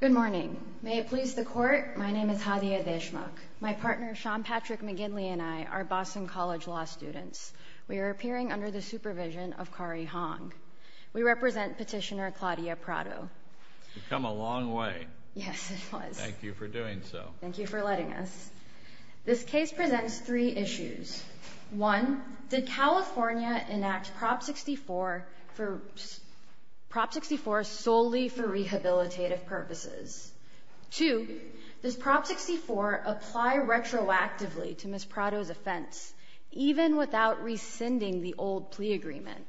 Good morning. May it please the Court, my name is Hadiya Deshmukh. My partner Sean Patrick McGinley and I are Boston College Law students. We are appearing under the supervision of Kari Hong. We represent Petitioner Claudia Prado. You've come a long way. Yes, it was. Thank you for doing so. Thank you for letting us. This case presents three issues. One, did California enact Prop 64 solely for rehabilitative purposes? Two, does Prop 64 apply retroactively to Ms. Prado's offense, even without rescinding the old plea agreement?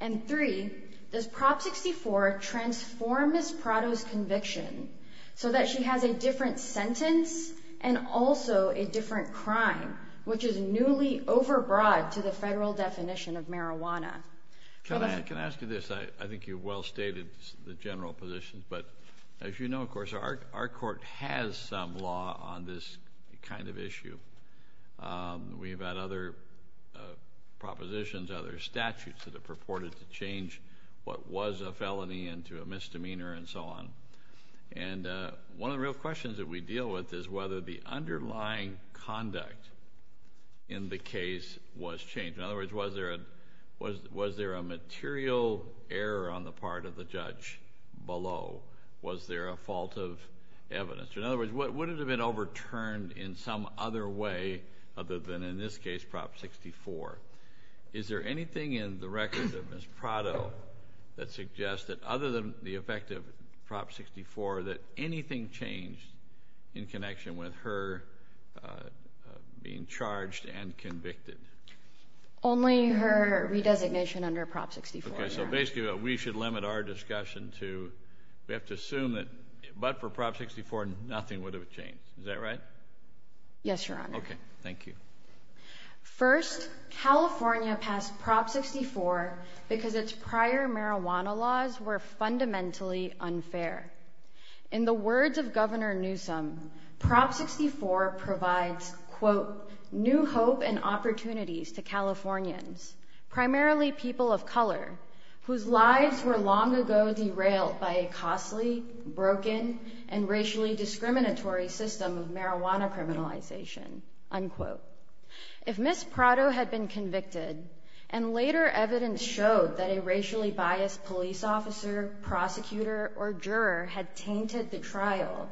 And three, does Prop 64 transform Ms. Prado's conviction so that she has a different sentence and also a different crime, which is newly overbroad to the federal definition of marijuana? Can I ask you this? I think you've well stated the general positions, but as you know, of course, our court has some law on this kind of issue. We've had other propositions, other statutes that have purported to change what was a felony into a misdemeanor and so on. And one of the real questions that we deal with is whether the underlying conduct in the case was changed. In other words, was there a material error on the part of the judge below? Was there a fault of evidence? In other words, would it have been overturned in some other way other than, in this case, Prop 64? Is there anything in the records of Ms. Prado that suggests that, other than the effect of Prop 64, that anything changed in connection with her being charged and convicted? Only her redesignation under Prop 64. Okay, so basically we should limit our discussion to, we have to assume that but for Prop 64, nothing would have changed. Is that right? Yes, Your Honor. Okay, thank you. First, California passed Prop 64 because its prior marijuana laws were fundamentally unfair. In the words of Governor Newsom, Prop 64 provides, quote, new hope and opportunities to Californians, primarily people of color, whose lives were long ago derailed by a costly, broken, and racially discriminatory system of marijuana criminalization, unquote. If Ms. Prado had been convicted, and later evidence showed that a racially biased police officer, prosecutor, or juror had tainted the trial,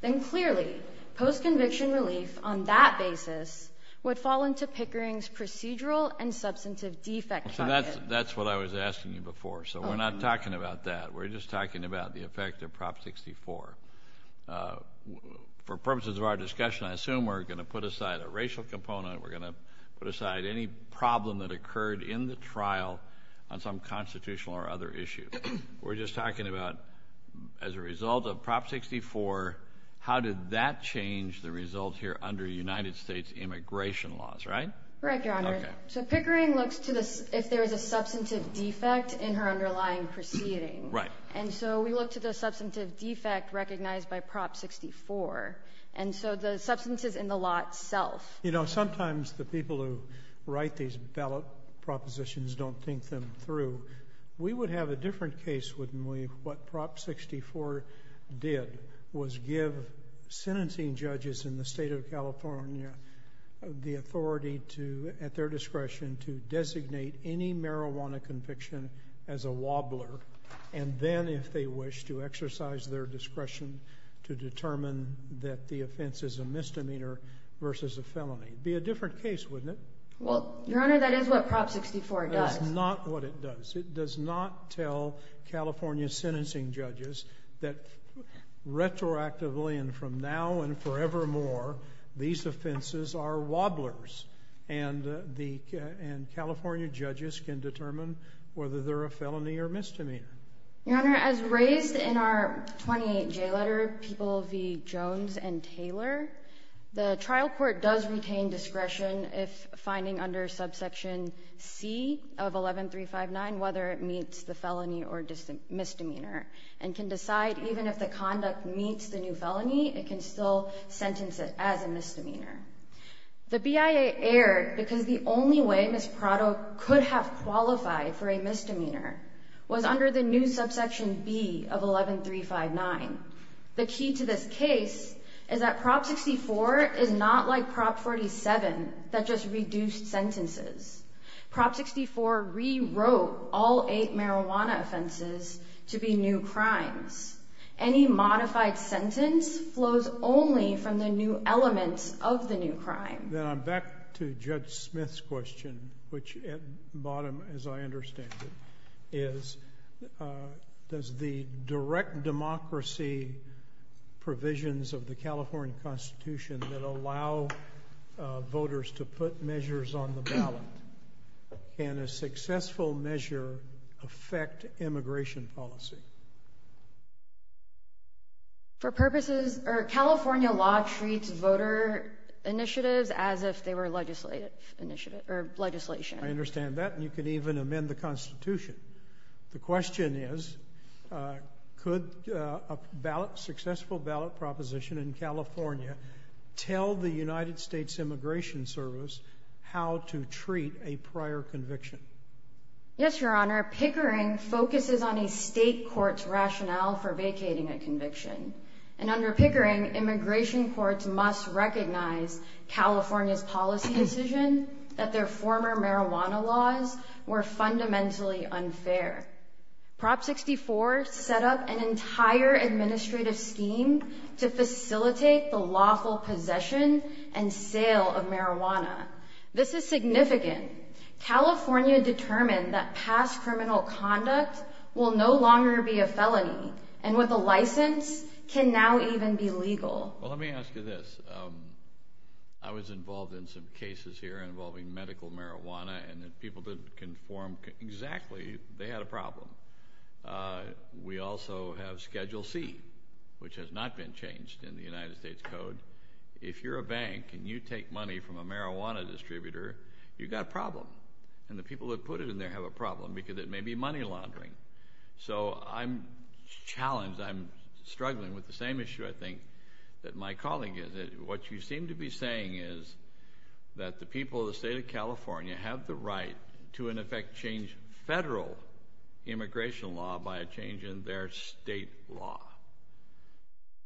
then clearly, post-conviction relief on that basis would fall into Pickering's procedural and substantive defect judgment. So that's what I was asking you before, so we're not talking about that. We're just talking about the effect of Prop 64. For purposes of our discussion, I assume we're going to put aside a racial component. We're going to put aside any problem that occurred in the trial on some constitutional or other issue. We're just talking about, as a result of Prop 64, how did that change the result here under United States immigration laws, right? Correct, Your Honor. Okay. So Pickering looks to the, if there is a substantive defect in her underlying proceedings. Right. And so we look to the substantive defect recognized by Prop 64. And so the substance is in the lot itself. You know, sometimes the people who write these ballot propositions don't think them through. We would have a different case, wouldn't we, if what Prop 64 did was give sentencing judges in the State of California the authority to, at their discretion, to designate any marijuana conviction as a wobbler. And then, if they wish, to exercise their discretion to determine that the offense is a misdemeanor versus a felony. It would be a different case, wouldn't it? Well, Your Honor, that is what Prop 64 does. That is not what it does. It does not tell California sentencing judges that, retroactively and from now and forevermore, these offenses are wobblers. And California judges can determine whether they're a felony or misdemeanor. Your Honor, as raised in our 28J letter, People v. Jones and Taylor, the trial court does retain discretion if finding under subsection C of 11359 whether it meets the felony or misdemeanor, and can decide even if the conduct meets the new felony, it can still sentence it as a misdemeanor. The BIA erred because the only way Ms. Prado could have qualified for a misdemeanor was under the new subsection B of 11359. The key to this case is that Prop 64 is not like Prop 47 that just reduced sentences. Prop 64 rewrote all eight marijuana offenses to be new crimes. Any modified sentence flows only from the new elements of the new crime. Then I'm back to Judge Smith's question, which at bottom, as I understand it, is does the direct democracy provisions of the California Constitution that allow voters to put measures on the ballot, can a successful measure affect immigration policy? For purposes, California law treats voter initiatives as if they were legislation. I understand that, and you can even amend the Constitution. The question is, could a successful ballot proposition in California tell the United States Immigration Service how to treat a prior conviction? Yes, Your Honor. Pickering focuses on a state court's rationale for vacating a conviction. And under Pickering, immigration courts must recognize California's policy decision that their former marijuana laws were fundamentally unfair. Prop 64 set up an entire administrative scheme to facilitate the lawful possession and sale of marijuana. This is significant. California determined that past criminal conduct will no longer be a felony, and with a license, can now even be legal. Well, let me ask you this. I was involved in some cases here involving medical marijuana, and the people didn't conform exactly. They had a problem. We also have Schedule C, which has not been changed in the United States Code. If you're a bank and you take money from a marijuana distributor, you've got a problem, and the people that put it in there have a problem because it may be money laundering. So I'm challenged. I'm struggling with the same issue, I think, that my colleague is. What you seem to be saying is that the people of the state of California have the right to, in effect, change federal immigration law by a change in their state law.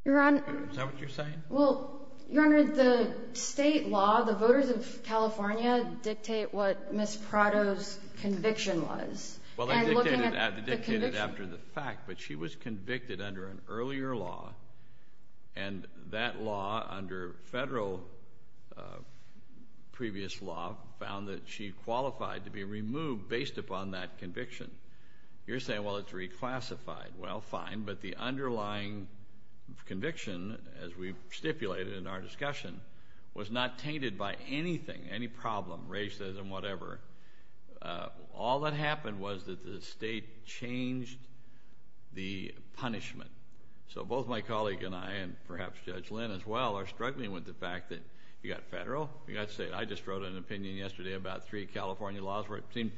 Your Honor. Is that what you're saying? Well, Your Honor, the state law, the voters of California dictate what Ms. Prado's conviction was. Well, they dictate it after the fact, but she was convicted under an earlier law, and that law under federal previous law found that she qualified to be removed based upon that conviction. You're saying, well, it's reclassified. Well, fine, but the underlying conviction, as we've stipulated in our discussion, was not tainted by anything, any problem, racism, whatever. All that happened was that the state changed the punishment. So both my colleague and I, and perhaps Judge Lynn as well, are struggling with the fact that you've got federal, you've got state. I just wrote an opinion yesterday about three California laws where it seems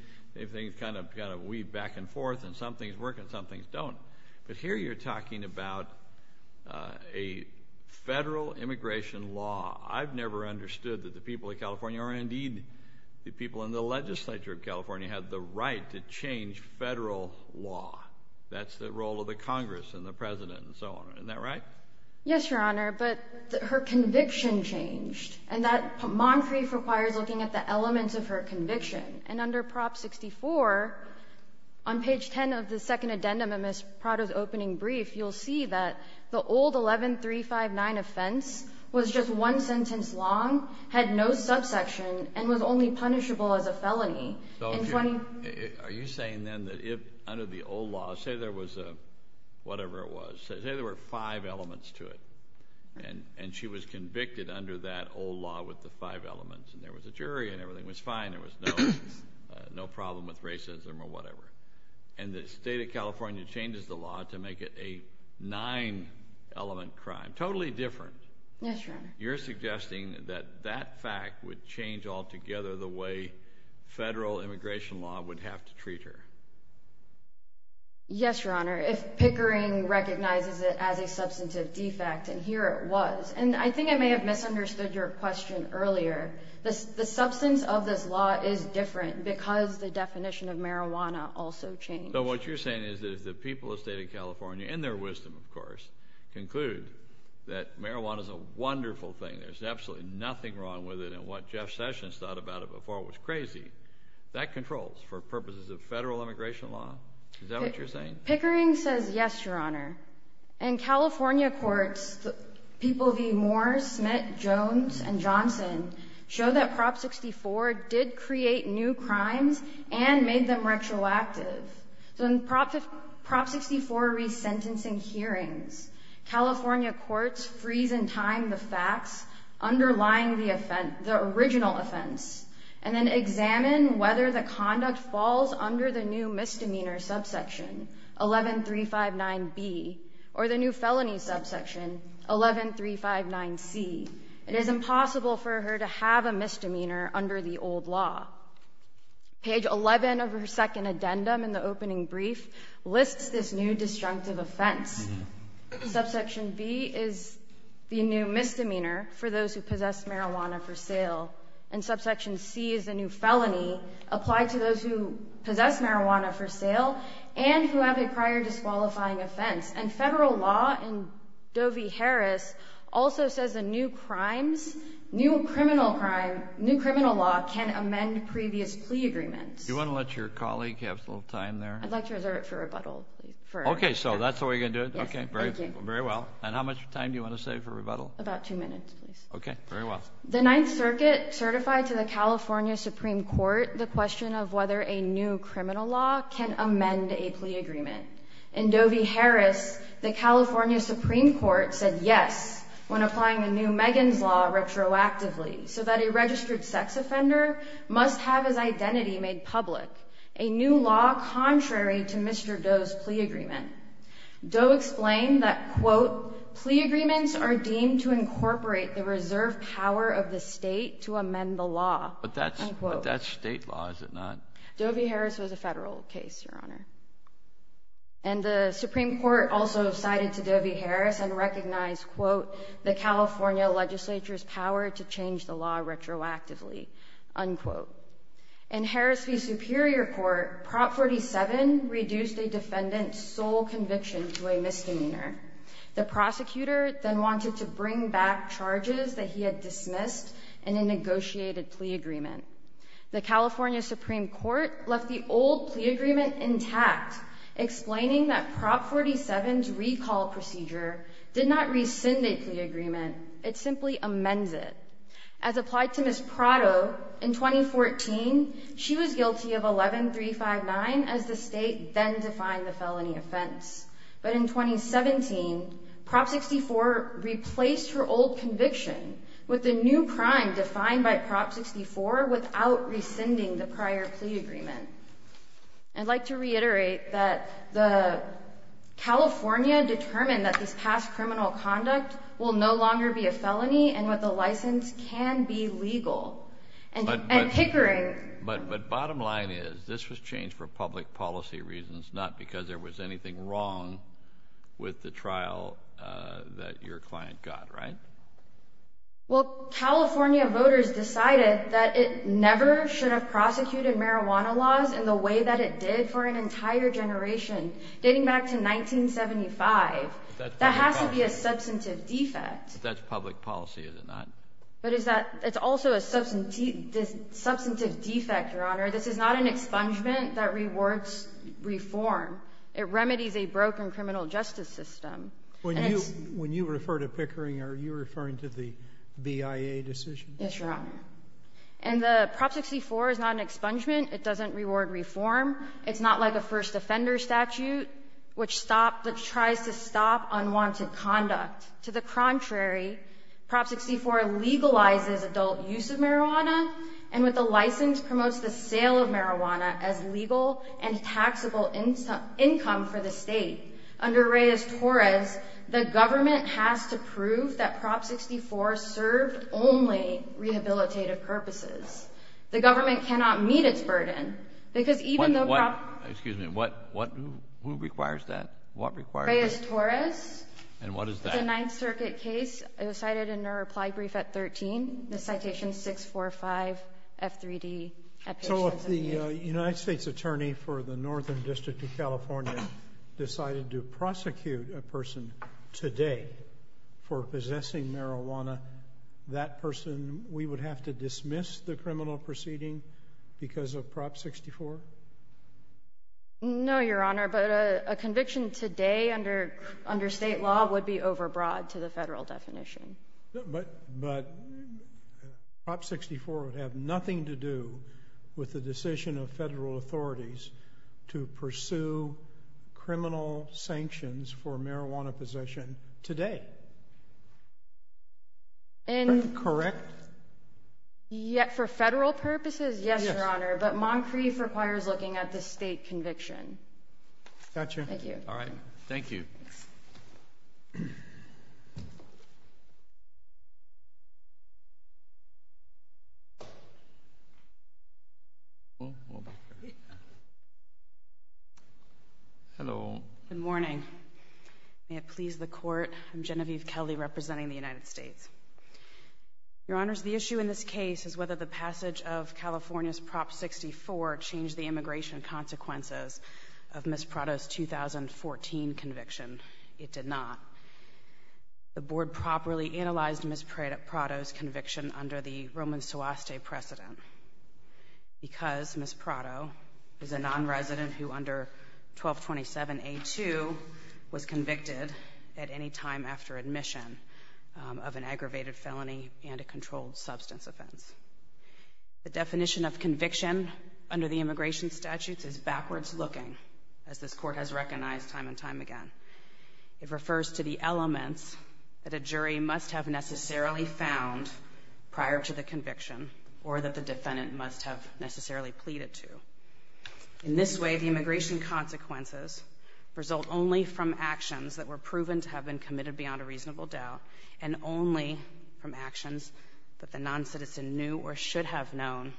things kind of weave back and forth and some things work and some things don't. But here you're talking about a federal immigration law. I've never understood that the people of California, or indeed the people in the legislature of California, had the right to change federal law. That's the role of the Congress and the President and so on. Isn't that right? Yes, Your Honor, but her conviction changed, and that mantra requires looking at the elements of her conviction. And under Prop 64, on page 10 of the second addendum of Ms. Prado's opening brief, you'll see that the old 11359 offense was just one sentence long, had no subsection, and was only punishable as a felony. Are you saying then that if under the old law, say there was a whatever it was, say there were five elements to it and she was convicted under that old law with the five elements and there was a jury and everything was fine, there was no problem with racism or whatever, and the state of California changes the law to make it a nine-element crime, totally different. Yes, Your Honor. You're suggesting that that fact would change altogether the way federal immigration law would have to treat her. Yes, Your Honor. If Pickering recognizes it as a substantive defect, and here it was. And I think I may have misunderstood your question earlier. The substance of this law is different because the definition of marijuana also changed. So what you're saying is that if the people of the state of California, in their wisdom, of course, conclude that marijuana is a wonderful thing, there's absolutely nothing wrong with it, and what Jeff Sessions thought about it before was crazy, that controls for purposes of federal immigration law? Is that what you're saying? Pickering says yes, Your Honor. In California courts, people V. Moore, Smit, Jones, and Johnson show that Prop 64 did create new crimes and made them retroactive. So in Prop 64 resentencing hearings, California courts freeze in time the facts underlying the original offense and then examine whether the conduct falls under the new misdemeanor subsection, 11359B, or the new felony subsection, 11359C. It is impossible for her to have a misdemeanor under the old law. Page 11 of her second addendum in the opening brief lists this new destructive offense. Subsection B is the new misdemeanor for those who possess marijuana for sale. And subsection C is the new felony applied to those who possess marijuana for sale and who have a prior disqualifying offense. And federal law in Doe v. Harris also says the new crimes, new criminal crime, new criminal law can amend previous plea agreements. Do you want to let your colleague have a little time there? I'd like to reserve it for rebuttal, please. Okay, so that's the way you're going to do it? Yes, thank you. Okay, very well. And how much time do you want to save for rebuttal? About two minutes, please. Okay, very well. The Ninth Circuit certified to the California Supreme Court the question of whether a new criminal law can amend a plea agreement. In Doe v. Harris, the California Supreme Court said yes when applying the new Megan's Law retroactively so that a registered sex offender must have his identity made public, a new law contrary to Mr. Doe's plea agreement. Doe explained that, quote, But that's state law, is it not? Doe v. Harris was a federal case, Your Honor. And the Supreme Court also cited to Doe v. Harris and recognized, quote, the California legislature's power to change the law retroactively, unquote. In Harris v. Superior Court, Prop 47 reduced a defendant's sole conviction to a misdemeanor. The prosecutor then wanted to bring back charges that he had dismissed in a negotiated plea agreement. The California Supreme Court left the old plea agreement intact, explaining that Prop 47's recall procedure did not rescind a plea agreement. It simply amends it. As applied to Ms. Prado in 2014, she was guilty of 11-359 as the state then defined the felony offense. But in 2017, Prop 64 replaced her old conviction with the new crime defined by Prop 64 without rescinding the prior plea agreement. I'd like to reiterate that the California determined that this past criminal conduct will no longer be a felony and that the license can be legal. And hickering. But bottom line is, this was changed for public policy reasons, not because there was anything wrong with the trial that your client got, right? Well, California voters decided that it never should have prosecuted marijuana laws in the way that it did for an entire generation dating back to 1975. That has to be a substantive defect. But that's public policy, is it not? But it's also a substantive defect, Your Honor. This is not an expungement that rewards reform. It remedies a broken criminal justice system. When you refer to hickering, are you referring to the BIA decision? Yes, Your Honor. And the Prop 64 is not an expungement. It doesn't reward reform. It's not like a first offender statute which stopped or tries to stop unwanted conduct. To the contrary, Prop 64 legalizes adult use of marijuana, and with a license promotes the sale of marijuana as legal and taxable income for the state. Under Reyes-Torres, the government has to prove that Prop 64 served only rehabilitative purposes. The government cannot meet its burden because even though Prop 64 What? Excuse me. What? Who requires that? Reyes-Torres. And what is that? It's a Ninth Circuit case. It was cited in our reply brief at 13, the citation 645F3D. So if the United States attorney for the Northern District of California decided to prosecute a person today for possessing marijuana, that person, we would have to dismiss the criminal proceeding because of Prop 64? No, Your Honor. But a conviction today under state law would be overbroad to the federal definition. But Prop 64 would have nothing to do with the decision of federal authorities to pursue criminal sanctions for marijuana possession today. Correct? For federal purposes, yes, Your Honor. But Moncrief requires looking at the state conviction. Got you. Thank you. All right. Thank you. Hello. Good morning. May it please the Court, I'm Genevieve Kelly representing the United States. Your Honors, the issue in this case is whether the passage of California's Prop 64 changed the immigration consequences of Ms. Prado's 2014 conviction. It did not. The Board properly analyzed Ms. Prado's conviction under the Roman Suase precedent because Ms. Prado is a nonresident who under 1227A2 was convicted at any time after admission of an aggravated felony and a controlled substance offense. The definition of conviction under the immigration statutes is backwards looking, as this Court has recognized time and time again. It refers to the elements that a jury must have necessarily found prior to the conviction or that the defendant must have necessarily pleaded to. In this way, the immigration consequences result only from actions that were proven to have been committed beyond a reasonable doubt and only from actions that the noncitizen knew or should have known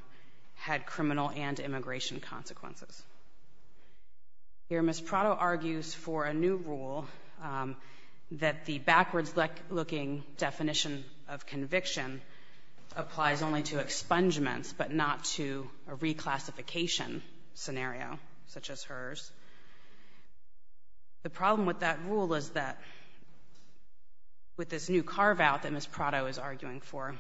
had criminal and immigration consequences. Here Ms. Prado argues for a new rule that the backwards looking definition of conviction, such as hers. The problem with that rule is that with this new carve out that Ms. Prado is arguing for,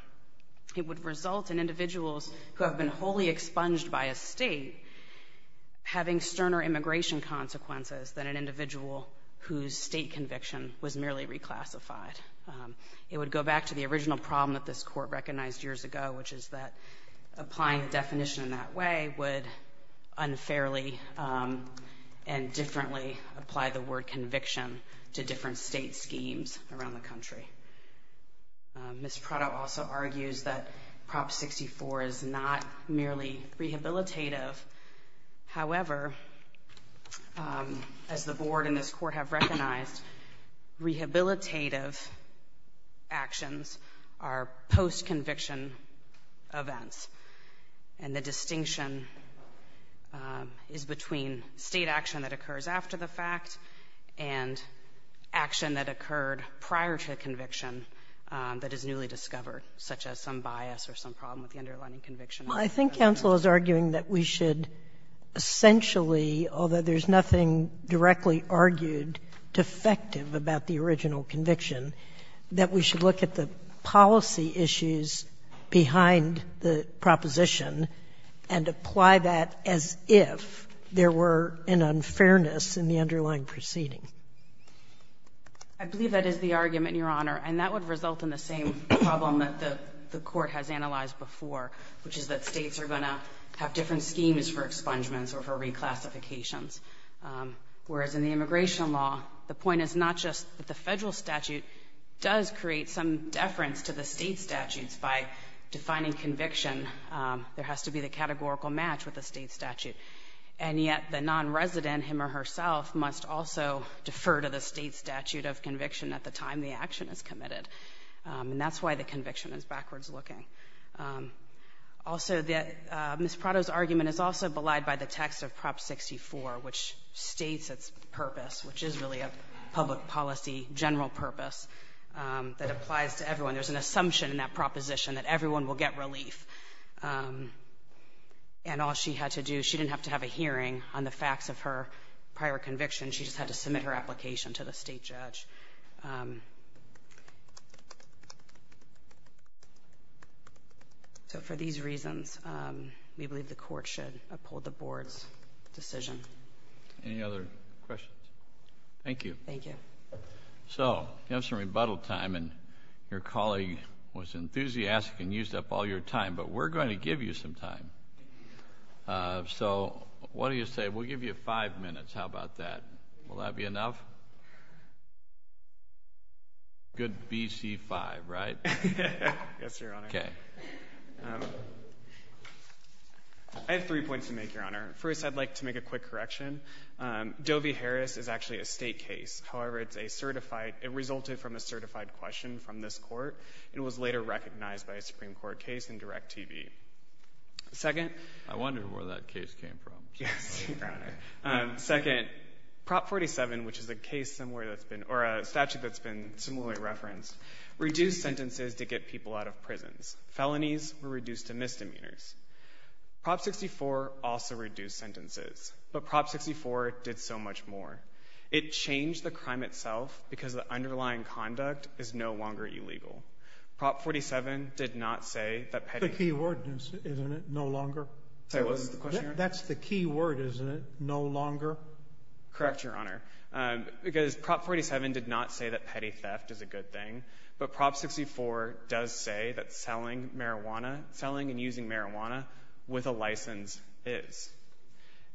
it would result in individuals who have been wholly expunged by a state having sterner immigration consequences than an individual whose state conviction was merely reclassified. It would go back to the original problem that this Court recognized years ago, which is that applying the definition in that way would unfairly and differently apply the word conviction to different state schemes around the country. Ms. Prado also argues that Prop 64 is not merely rehabilitative. However, as the Board and this Court have recognized, rehabilitative actions are post-conviction events. And the distinction is between State action that occurs after the fact and action that occurred prior to conviction that is newly discovered, such as some bias or some problem with the underlying conviction. Sotomayor, I think counsel is arguing that we should essentially, although there's nothing directly argued defective about the original conviction, that we should look at the policy issues behind the proposition and apply that as if there were an unfairness in the underlying proceeding. I believe that is the argument, Your Honor, and that would result in the same problem that the Court has analyzed before, which is that States are going to have different schemes for expungements or for reclassifications, whereas in the immigration law, the point is not just that the Federal statute does create some deference to the State statutes by defining conviction. There has to be the categorical match with the State statute, and yet the nonresident, him or herself, must also defer to the State statute of conviction at the time the action is committed. And that's why the conviction is backwards looking. Also, Ms. Prado's argument is also belied by the text of Prop 64, which states its purpose, which is really a public policy general purpose that applies to everyone. There's an assumption in that proposition that everyone will get relief. And all she had to do, she didn't have to have a hearing on the facts of her prior conviction, she just had to submit her application to the State judge. So, for these reasons, we believe the Court should uphold the Board's decision. Any other questions? Thank you. Thank you. So, you have some rebuttal time, and your colleague was enthusiastic and used up all your time, but we're going to give you some time. So, what do you say? We'll give you five minutes. How about that? Will that be enough? Good BC5, right? Yes, Your Honor. Okay. I have three points to make, Your Honor. First, I'd like to make a quick correction. Doe v. Harris is actually a State case. However, it's a certified, it resulted from a certified question from this Court. It was later recognized by a Supreme Court case in Direct TV. Second? I wonder where that case came from. Yes, Your Honor. Second, Prop 47, which is a case somewhere that's been, or a statute that's been similarly referenced, reduced sentences to get people out of prisons. Felonies were reduced to misdemeanors. Prop 64 also reduced sentences, but Prop 64 did so much more. It changed the crime itself because the underlying conduct is no longer illegal. Prop 47 did not say that petty ---- The key word, isn't it, no longer? Sorry, what was the question, Your Honor? That's the key word, isn't it, no longer? Correct, Your Honor. Because Prop 47 did not say that petty theft is a good thing, but Prop 64 does say that selling marijuana, selling and using marijuana with a license is.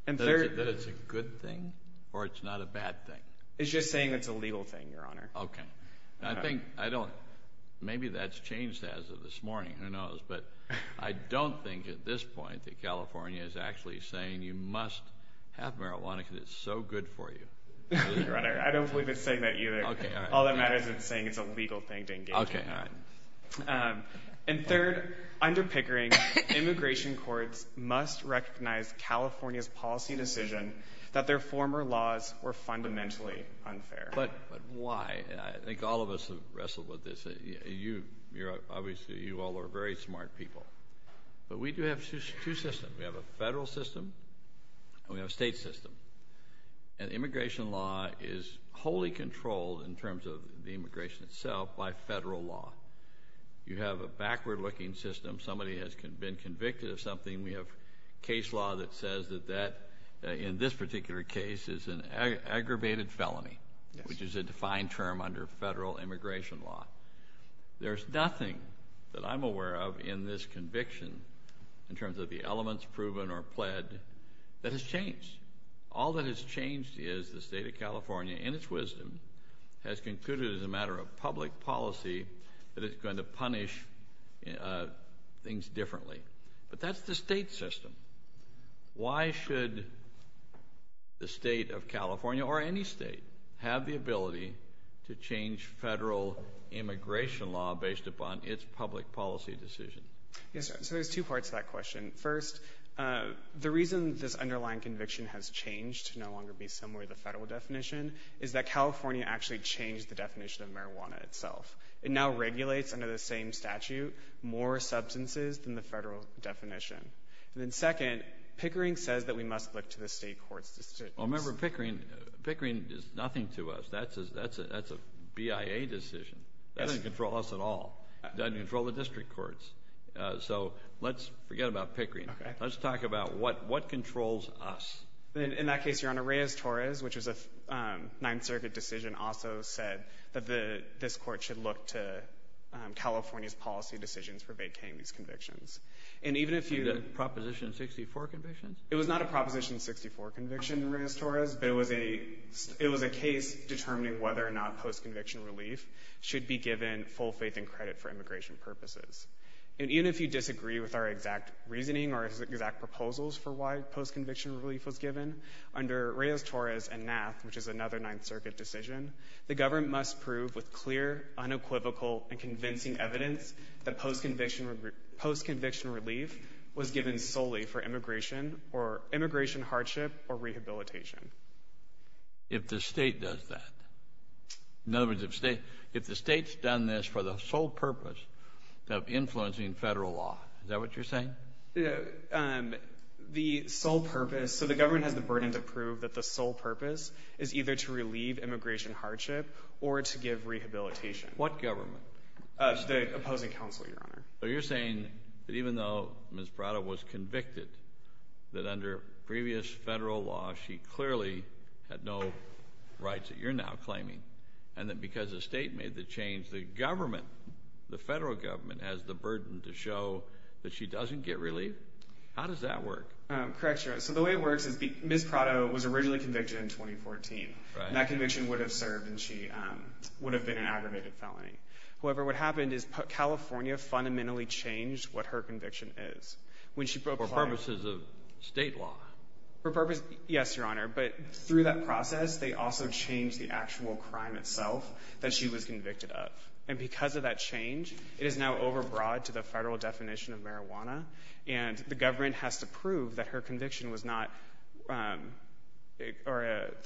That it's a good thing or it's not a bad thing? It's just saying it's a legal thing, Your Honor. Okay. I think, I don't, maybe that's changed as of this morning, who knows. But I don't think at this point that California is actually saying you must have marijuana because it's so good for you. I don't believe it's saying that either. All that matters is it's saying it's a legal thing to engage in. Okay, all right. And third, under Pickering, immigration courts must recognize California's policy decision that their former laws were fundamentally unfair. But why? I think all of us have wrestled with this. Obviously, you all are very smart people. But we do have two systems. We have a federal system and we have a state system. And immigration law is wholly controlled in terms of the immigration itself by federal law. You have a backward-looking system. Somebody has been convicted of something. We have case law that says that that, in this particular case, is an aggravated felony, which is a defined term under federal immigration law. There's nothing that I'm aware of in this conviction in terms of the elements proven or pled that has changed. All that has changed is the state of California, in its wisdom, has concluded as a matter of public policy that it's going to punish things differently. But that's the state system. Why should the state of California, or any state, have the ability to change federal immigration law based upon its public policy decision? Yes, sir. So there's two parts to that question. First, the reason this underlying conviction has changed to no longer be similar to the federal definition is that California actually changed the definition of marijuana itself. It now regulates, under the same statute, more substances than the federal definition. And then second, Pickering says that we must look to the state court's decisions. Remember, Pickering does nothing to us. That's a BIA decision. That doesn't control us at all. It doesn't control the district courts. So let's forget about Pickering. Let's talk about what controls us. In that case, Your Honor, Reyes-Torres, which was a Ninth Circuit decision, also said that this court should look to California's policy decisions for vacating these convictions. And even if you — The Proposition 64 convictions? It was not a Proposition 64 conviction, Reyes-Torres, but it was a case determining whether or not post-conviction relief should be given full faith and credit for immigration purposes. And even if you disagree with our exact reasoning or exact proposals for why post-conviction relief was given, under Reyes-Torres and NAAF, which is another Ninth Circuit decision, the government must prove with clear, unequivocal, and convincing evidence that post-conviction relief was given solely for immigration or immigration hardship or rehabilitation. If the state does that. In other words, if the state's done this for the sole purpose of influencing federal law. Is that what you're saying? The sole purpose — So the government has the burden to prove that the sole purpose is either to relieve immigration hardship or to give rehabilitation. What government? The opposing counsel, Your Honor. So you're saying that even though Ms. Prado was convicted, that under previous federal law she clearly had no rights that you're now claiming, and that because the state made the change, the government, the federal government, has the burden to show that she doesn't get relief? How does that work? Correct, Your Honor. So the way it works is Ms. Prado was originally convicted in 2014. Right. And that conviction would have served, and she would have been an aggravated felony. However, what happened is California fundamentally changed what her conviction is. When she — For purposes of state law. For purposes — yes, Your Honor. But through that process, they also changed the actual crime itself that she was convicted of. And because of that change, it is now overbroad to the federal definition of marijuana, and the government has to prove that her conviction was not —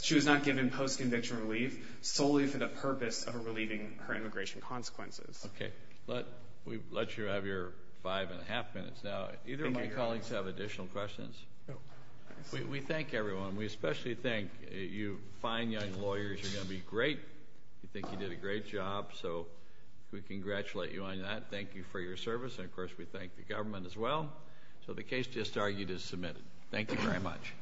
she was not given post-conviction relief solely for the purpose of relieving her immigration consequences. Okay. We'll let you have your five and a half minutes now. Either of my colleagues have additional questions? No. We thank everyone. We especially thank you fine young lawyers. You're going to be great. We think you did a great job. So we congratulate you on that. Thank you for your service. And, of course, we thank the government as well. So the case just argued is submitted. Thank you very much.